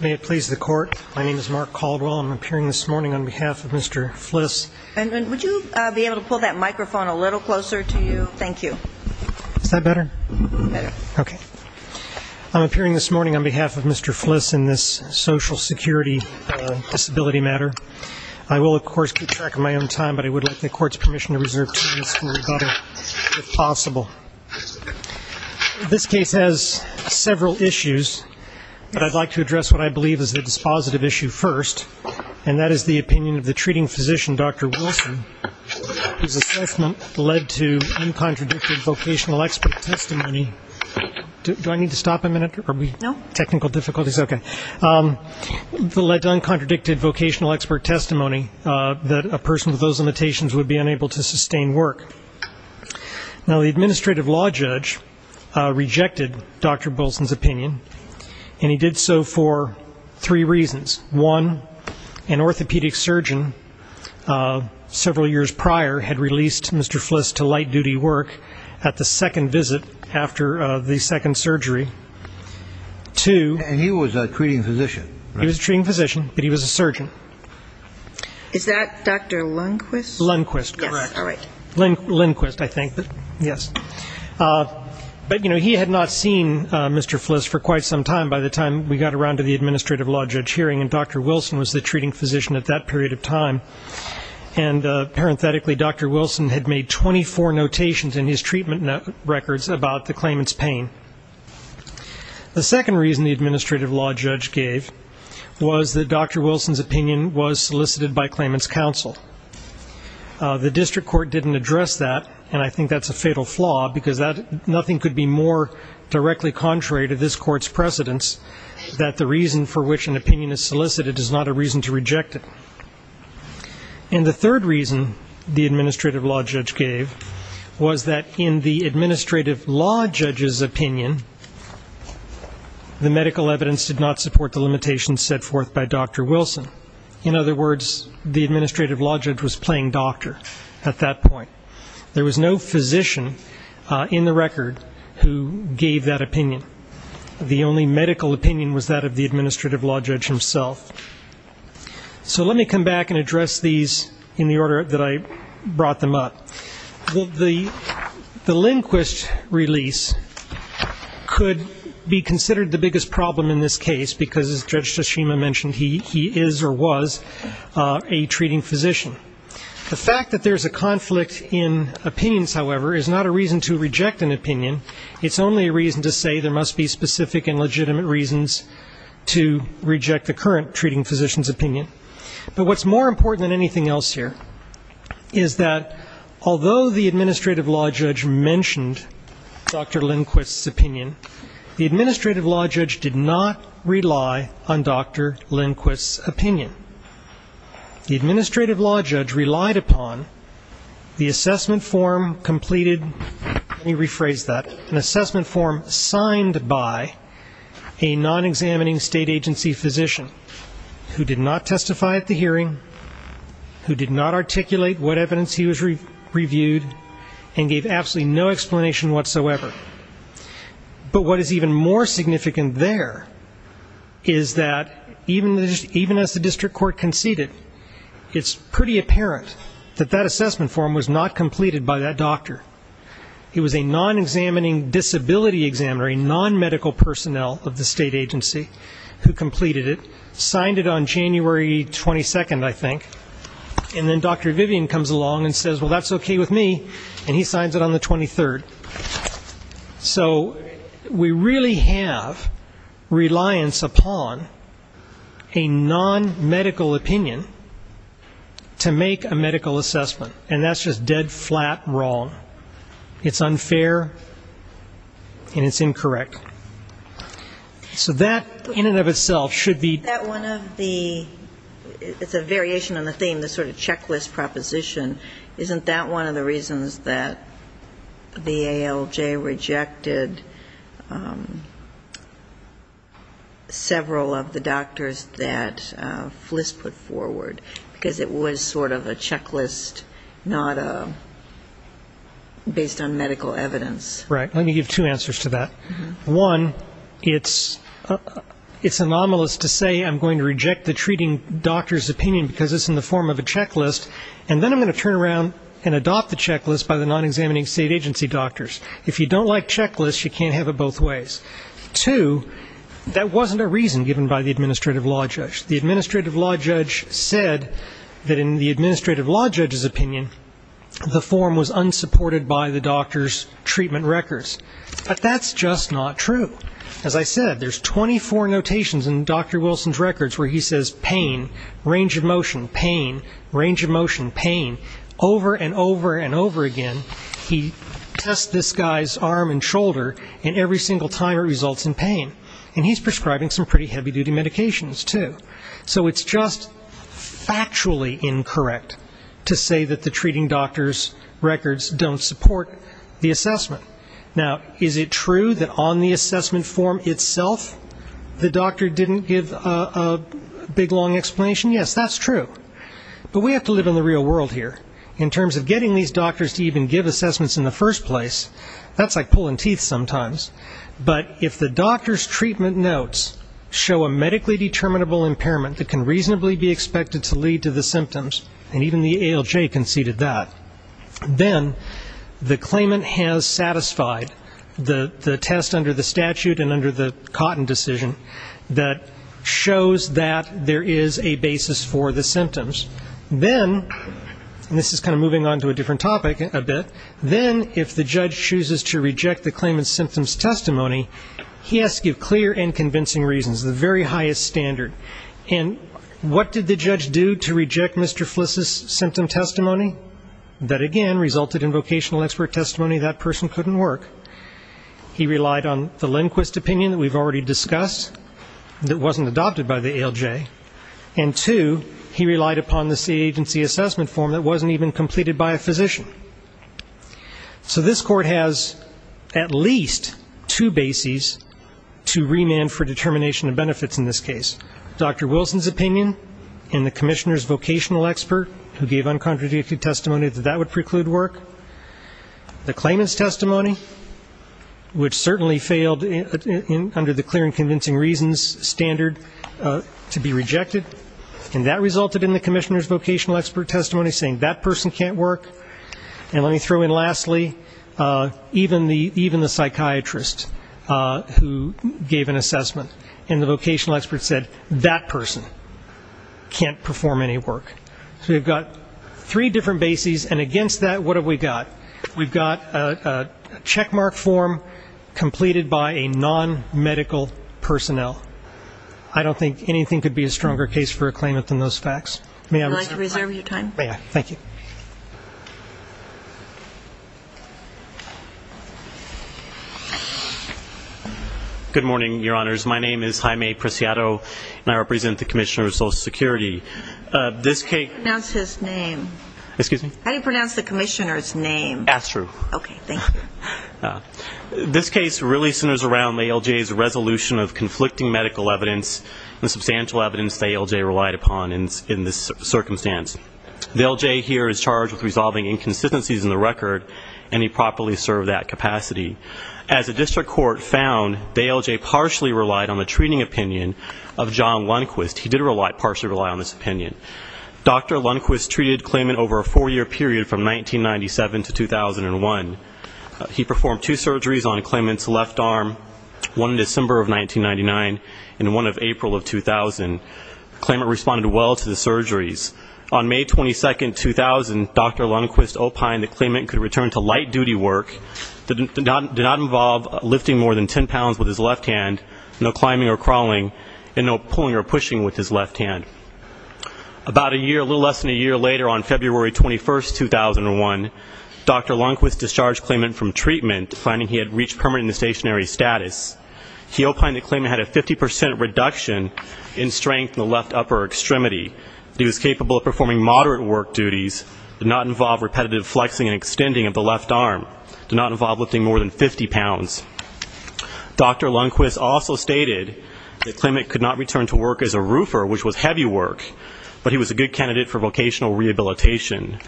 May it please the court, my name is Mark Caldwell and I'm appearing this morning on behalf of Mr. Fliss and would you be able to pull that microphone a little closer to you? Thank you. Is that better? Better. Okay. I'm appearing this morning on behalf of Mr. Fliss in this social security disability matter. I will of course keep track of my own time but I would like the court's permission to reserve time for rebuttal if possible. This case has several issues but I would like to address what I believe is the dispositive issue first and that is the opinion of the treating physician, Dr. Wilson, whose assessment led to uncontradicted vocational expert testimony. Do I need to stop a minute? No. Technical difficulties? Okay. It led to uncontradicted vocational expert testimony that a person with those limitations would be unable to sustain work. Now the administrative law judge rejected Dr. Wilson's opinion and he did so for three reasons. One, an orthopedic surgeon several years prior had released Mr. Fliss to light duty work at the second visit after the second surgery. Two. And he was a treating physician. He was a treating physician but he was a surgeon. Is that Dr. Lundquist? Lundquist. Correct. Lundquist I think. Yes. But you know he had not seen Mr. Fliss for quite some time by the time we got around to the administrative law judge hearing and Dr. Wilson was the treating physician at that period of time and parenthetically Dr. Wilson had made 24 notations in his treatment records about the claimant's pain. The second reason the administrative law judge gave was that Dr. Wilson's opinion was solicited by claimant's counsel. The district court didn't address that and I think that's a fatal flaw because nothing could be more directly contrary to this court's precedence that the reason for which an opinion is solicited is not a reason to reject it. And the third reason the administrative law judge gave was that in the administrative law judge's opinion the medical evidence did not support the limitations set forth by Dr. Wilson. In other words the physician in the record who gave that opinion. The only medical opinion was that of the administrative law judge himself. So let me come back and address these in the order that I brought them up. The Lundquist release could be considered the biggest problem in this case because as Judge Tashima mentioned he is or was a treating physician. The fact that there's a conflict in opinions, however, is not a reason to reject an opinion. It's only a reason to say there must be specific and legitimate reasons to reject the current treating physician's opinion. But what's more important than anything else here is that although the administrative law judge mentioned Dr. Lundquist's opinion, the administrative law judge did not rely on Dr. Wilson's opinion. An assessment form completed, let me rephrase that, an assessment form signed by a non-examining state agency physician who did not testify at the hearing, who did not articulate what evidence he was reviewed and gave absolutely no explanation whatsoever. But what is even more significant there is that even as the district court conceded it's pretty apparent that that assessment form was not completed by that doctor. He was a non-examining disability examiner, a non-medical personnel of the state agency who completed it, signed it on January 22nd, I think, and then Dr. Vivian comes along and says well that's okay with me and he signs it on the 23rd. So we really have reliance upon a non-medical opinion to make a medical assessment. And that's just dead flat wrong. It's unfair and it's incorrect. So that in and of itself should be That one of the, it's a variation on the theme, the sort of checklist proposition, isn't that one of the reasons that the ALJ rejected several of the doctors that Fliss put together? Because it was sort of a checklist, not a, based on medical evidence. Right. Let me give two answers to that. One, it's anomalous to say I'm going to reject the treating doctor's opinion because it's in the form of a checklist and then I'm going to turn around and adopt the checklist by the non-examining state agency doctors. If you don't like checklists you can't have it both ways. Two, that wasn't a reason given by the administrative law judge. The administrative law judge said that in the administrative law judge's opinion the form was unsupported by the doctor's treatment records. But that's just not true. As I said, there's 24 notations in Dr. Wilson's records where he says pain, range of motion, pain, range of motion, pain, over and over and over again. He tests this guy's arm and shoulder and every single time it results in pain. And he's prescribing some pretty heavy duty medications too. So it's just factually incorrect to say that the treating doctor's records don't support the assessment. Now, is it true that on the assessment form itself the doctor didn't give a big long explanation? Yes, that's true. But we have to live in the real world here. In terms of getting these doctors to even give assessments in the first place, that's like pulling teeth sometimes. But if the doctor's treatment notes show a medically determinable impairment that can reasonably be expected to lead to the symptoms, and even the ALJ conceded that, then the claimant has satisfied the test under the statute and under the Cotton decision that shows that there is a basis for the symptoms. Then, and this is kind of moving on to a different topic a bit, then if the judge chooses to reject the claimant's symptoms testimony, he has to give clear and convincing reasons, the very highest standard. And what did the judge do to reject Mr. Fliss's symptom testimony? That again resulted in vocational expert testimony. That person couldn't work. He relied on the Lindquist opinion that we've already discussed that wasn't adopted by the ALJ. And two, he relied upon the agency assessment form that wasn't even completed by a physician. So this court has at least two bases to remand for determination of benefits in this case. Dr. Wilson's opinion and the commissioner's vocational expert who gave uncontradicted testimony that that would preclude work. The claimant's testimony, which certainly failed under the clear and convincing reasons standard to be rejected. And that resulted in the commissioner's vocational expert testimony saying that person can't work. And let me throw in lastly, even the psychiatrist who gave an assessment and the vocational expert said that person can't perform any work. So we've got three different bases and against that, what have we got? We've got a checkmark form completed by a non-medical personnel. I don't think anything could be a stronger case for a claimant than those facts. May I reserve your time? May I? Thank you. Good morning, Your Honors. My name is Jaime Preciado and I represent the Commissioner of Social Security. This case really centers around the ALJ's resolution of conflicting medical evidence and substantial evidence the ALJ relied upon in this circumstance. The ALJ here is charged with resolving inconsistencies in the record and he properly served that capacity. As the district court found, the ALJ partially relied on the treating opinion of John Lundquist. He did partially rely on his opinion. Dr. Lundquist treated the claimant over a four-year period from 1997 to 2001. He performed two surgeries on the claimant's left arm, one in December of 1999 and one in April of 2000. The claimant responded well to the surgeries. On May 22, 2000, Dr. Lundquist opined that the claimant could return to light duty work, did not involve lifting more than ten pounds with his left hand, no climbing or crawling, and no pulling or pushing with his left hand. About a year, a little less than a year later, on February 21, 2001, Dr. Lundquist discharged the claimant from treatment, finding he had reached permanent and stationary status. He opined the claimant had a 50 percent reduction in strength in the left upper extremity. He was capable of performing moderate work duties, did not involve repetitive flexing and extending of the left arm, did not involve lifting more than 50 pounds. Dr. Lundquist also stated the claimant could not return to work as a roofer, which was heavy work, but he was a good candidate for vocational rehabilitation.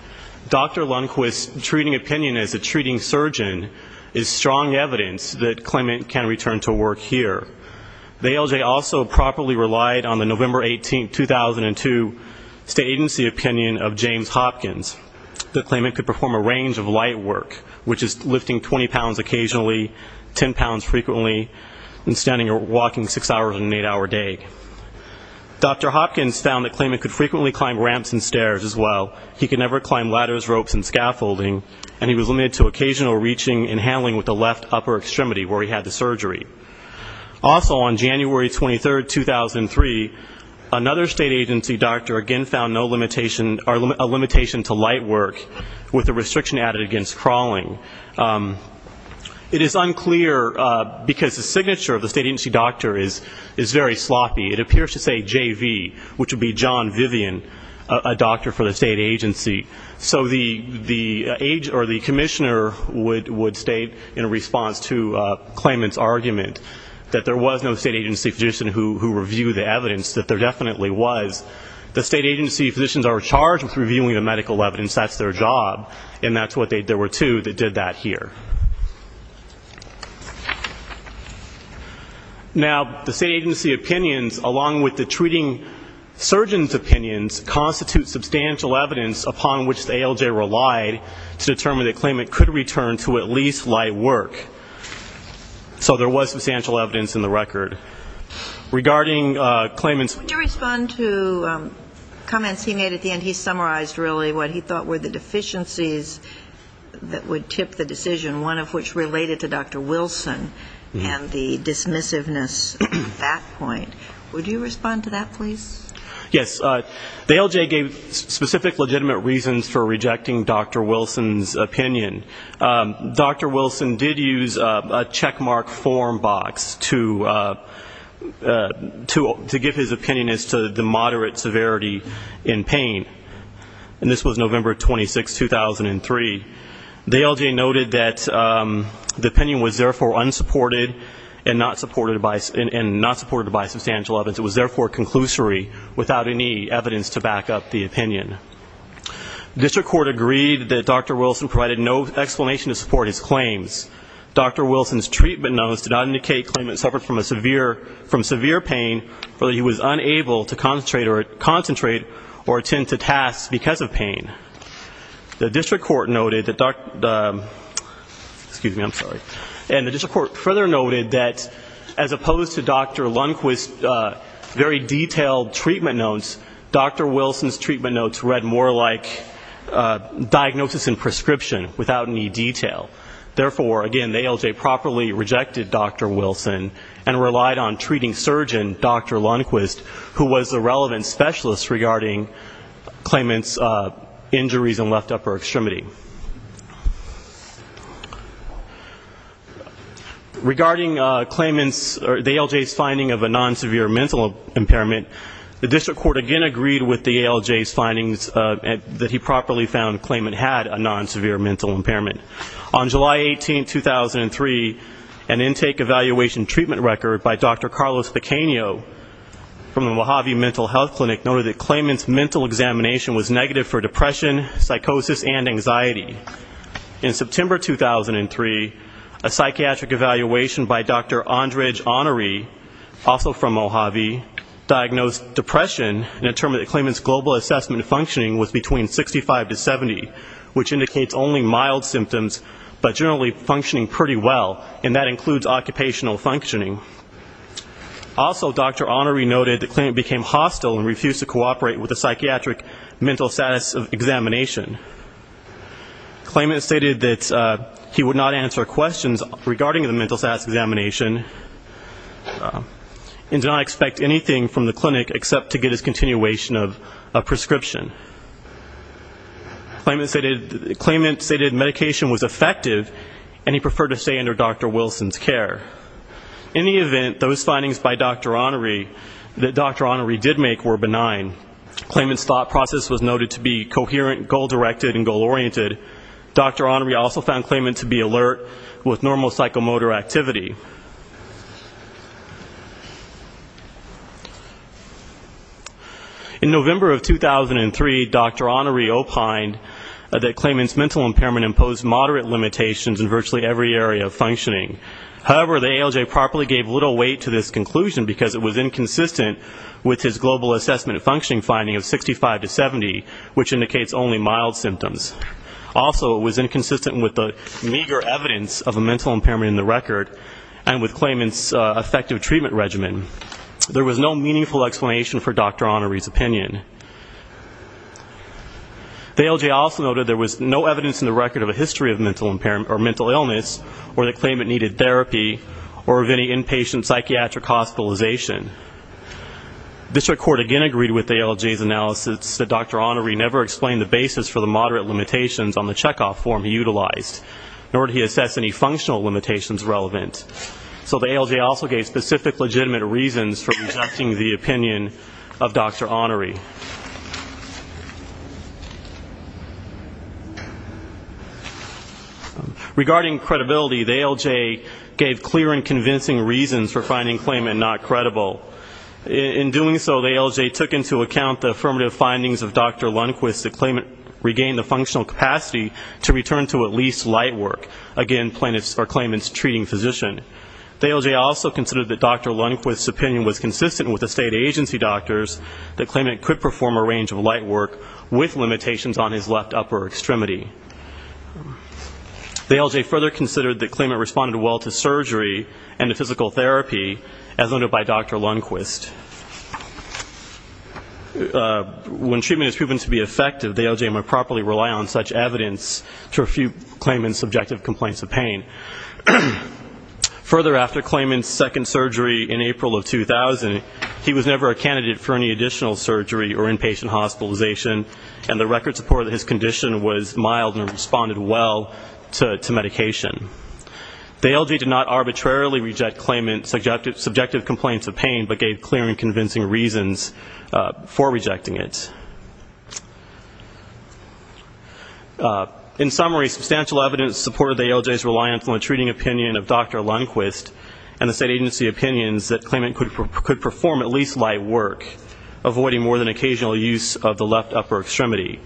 Dr. Lundquist's treating opinion as a treating surgeon is strong evidence that the claimant can return to work here. The ALJ also properly relied on the November 18, 2002, state agency opinion of James Hopkins that the claimant could perform a range of light work, which is lifting 20 pounds occasionally, 10 pounds frequently, and standing or walking six hours on an eight-hour day. Dr. Hopkins found the claimant could frequently climb ramps and stairs as well. He could never climb ladders, ropes, and scaffolding, and he was limited to occasional reaching and handling with the left upper extremity where he had the surgery. Also, on January 23, 2003, another state agency doctor again found no limitation or a limitation to light work with a restriction added against crawling. It is unclear, because the signature of the state agency doctor is very sloppy. It appears to say JV, which would be John Vivian, a doctor for the state agency. So the age or the commissioner would state in response to claimant's argument that there was no state agency physician who reviewed the evidence, that there definitely was. The state agency physicians are charged with reviewing the medical evidence. That's their job, and that's what they did. There were two that did that here. Now, the state agency opinions, along with the treating surgeon's opinions, constitute substantial evidence upon which the ALJ relied to determine the claimant could return to at least light work. So there was substantial evidence in the record. Regarding claimant's comments he made at the end, he summarized really what he thought were the deficiencies that would tip the decision, one of which related to Dr. Wilson and the dismissiveness at that point. Would you respond to that, please? Yes. The ALJ gave specific legitimate reasons for rejecting Dr. Wilson's opinion. Dr. Wilson did use a checkmark form box to give his opinion as to the moderate severity in pain. And this was November 26, 2003. The ALJ noted that the opinion was therefore unsupported and not supported by substantial evidence. It was therefore conclusory without any evidence to back up the opinion. The district court agreed that Dr. Wilson provided no explanation to support his claims. Dr. Wilson's treatment notes did not indicate claimant suffered from severe pain or that he was unable to concentrate or attend to tasks because of pain. The district court noted that, excuse me, I'm sorry, and the district court further noted that as opposed to Dr. Lundquist's very detailed treatment notes, Dr. Wilson's treatment notes read more like diagnosis and prescription without any detail. Therefore, again, the ALJ properly rejected Dr. Wilson and relied on treating surgeon Dr. Lundquist, who was the relevant specialist regarding claimant's injuries and left upper extremity. Regarding claimant's or the ALJ's finding of a non-severe mental impairment, the district court again agreed with the ALJ's findings that he properly found claimant had a non-severe mental impairment. On July 18, 2003, an intake evaluation treatment record by Dr. Carlos Pequeno from the Mojave Mental Health Clinic noted that claimant's mental examination was negative for depression, psychosis, and anxiety. In September 2003, a psychiatric evaluation by Dr. Andrij Anari, also from Mojave, diagnosed depression and determined that claimant's global assessment functioning was between 65 to 70, which indicates only mild symptoms, but generally functioning pretty well, and that includes occupational functioning. Also, Dr. Anari noted that claimant became hostile and refused to cooperate with a psychiatric mental status examination. Claimant stated that he would not answer questions regarding the mental status examination and did not expect anything from the clinic except to get his continuation of a prescription. Claimant stated medication was effective and he preferred to stay under Dr. Wilson's care. In the event, those findings by Dr. Anari that Dr. Anari did make were benign. Claimant's thought process was noted to be coherent, goal-directed, and goal-oriented. Dr. Anari also found claimant to be alert with normal psychomotor activity. In November of 2003, Dr. Anari opined that claimant's mental impairment imposed moderate limitations in virtually every area of functioning. However, the ALJ properly gave little weight to this conclusion because it was inconsistent with his global assessment functioning finding of 65 to 70, which indicates only mild symptoms. Also, it was inconsistent with the meager evidence of a mental impairment in the record and with claimant's effective treatment regimen. There was no meaningful explanation for Dr. Anari's opinion. The ALJ also noted there was no evidence in the record of a history of mental illness or that claimant needed therapy or of any inpatient psychiatric hospitalization. District Court again agreed with ALJ's analysis that Dr. Anari never explained the basis for the moderate limitations on the checkoff form he utilized, nor did he assess any functional limitations relevant. So the ALJ also gave specific legitimate reasons for rejecting the opinion of Dr. Anari. Regarding credibility, the ALJ gave clear and convincing reasons for finding claimant not credible. In doing so, the ALJ took into account the affirmative findings of Dr. Lundquist that claimant regained the functional capacity to return to at least light work, again, plaintiff's or claimant's treating physician. The ALJ also considered that Dr. Lundquist's opinion was consistent with the state agency doctor's that claimant could perform a range of light work with limitations on his left upper extremity. The ALJ further considered that claimant responded well to surgery and to physical therapy, as noted by Dr. Lundquist. When treatment is proven to be effective, the ALJ might properly rely on such evidence to refute claimant's subjective complaints of pain. Further, after claimant's second surgery in April of 2000, he was never a candidate for any additional surgery or inpatient hospitalization, and the record support that his condition was mild and responded well to medication. The ALJ did not arbitrarily reject claimant's subjective complaints of pain, but gave clear and convincing reasons for rejecting it. In summary, substantial evidence supported the ALJ's reliance on the treating opinion of Dr. Lundquist and the state agency opinions that claimant could perform at least light work, avoiding more than occasional use of the left upper extremity.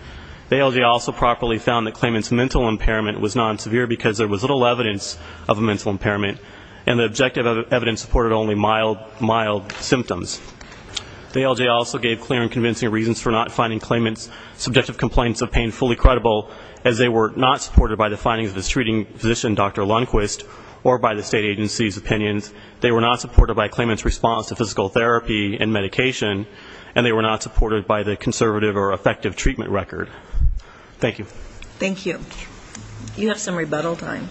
The ALJ also properly found that claimant's mental impairment was non-severe because there was little evidence of a mental impairment, and the objective evidence supported only mild symptoms. The ALJ did not find claimant's subjective complaints of pain fully credible, as they were not supported by the findings of his treating physician, Dr. Lundquist, or by the state agency's opinions. They were not supported by claimant's response to physical therapy and medication, and they were not supported by the conservative or effective treatment record. Thank you. Thank you. You have some rebuttal time.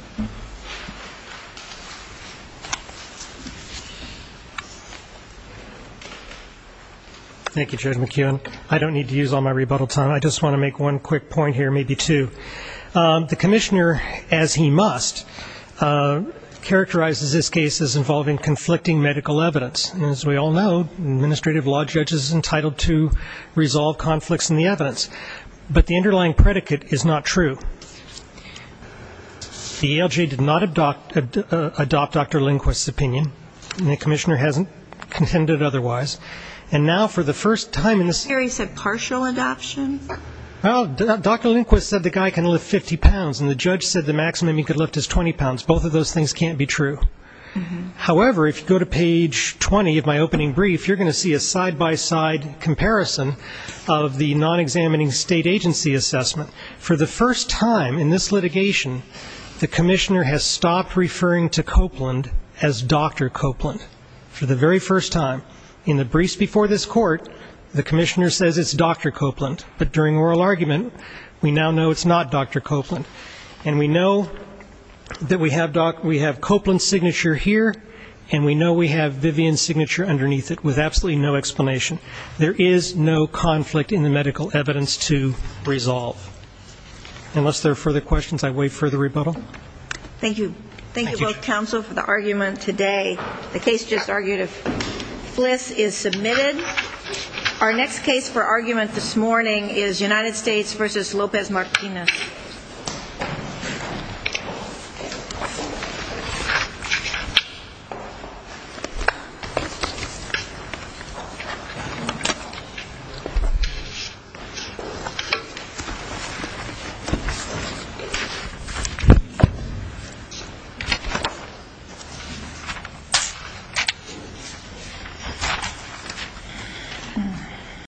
Thank you, Judge McKeown. I don't need to use all my rebuttal time. I just want to make one quick point here, maybe two. The commissioner, as he must, characterizes this case as involving conflicting medical evidence, and as we all know, an administrative law judge is entitled to resolve conflicts in the evidence, but the underlying predicate is not true. The ALJ did not adopt Dr. Lundquist's opinion, and the commissioner hasn't contended otherwise, and now for the first time in this year he said partial adoption. Well, Dr. Lundquist said the guy can lift 50 pounds, and the judge said the maximum he could lift is 20 pounds. Both of those things can't be true. However, if you go to page 20 of my opening brief, you're going to see a side-by-side comparison of the non-examining state agency assessment. For the first time in this litigation, the commissioner has stopped referring to Copeland as Dr. Copeland. For the very first time in the briefs before this court, the commissioner says it's Dr. Copeland, but during oral argument, we now know it's not Dr. Copeland, and we know that we have Copeland's signature here, and we know we have Vivian's signature underneath it with absolutely no explanation. There is no conflict in the medical evidence to resolve. Unless there are further questions, I wait for the rebuttal. Thank you. Thank you both counsel for the argument today. The case just argued of Fliss is submitted. Our next case for argument this morning is United States v. Lopez Martinez. Thank you.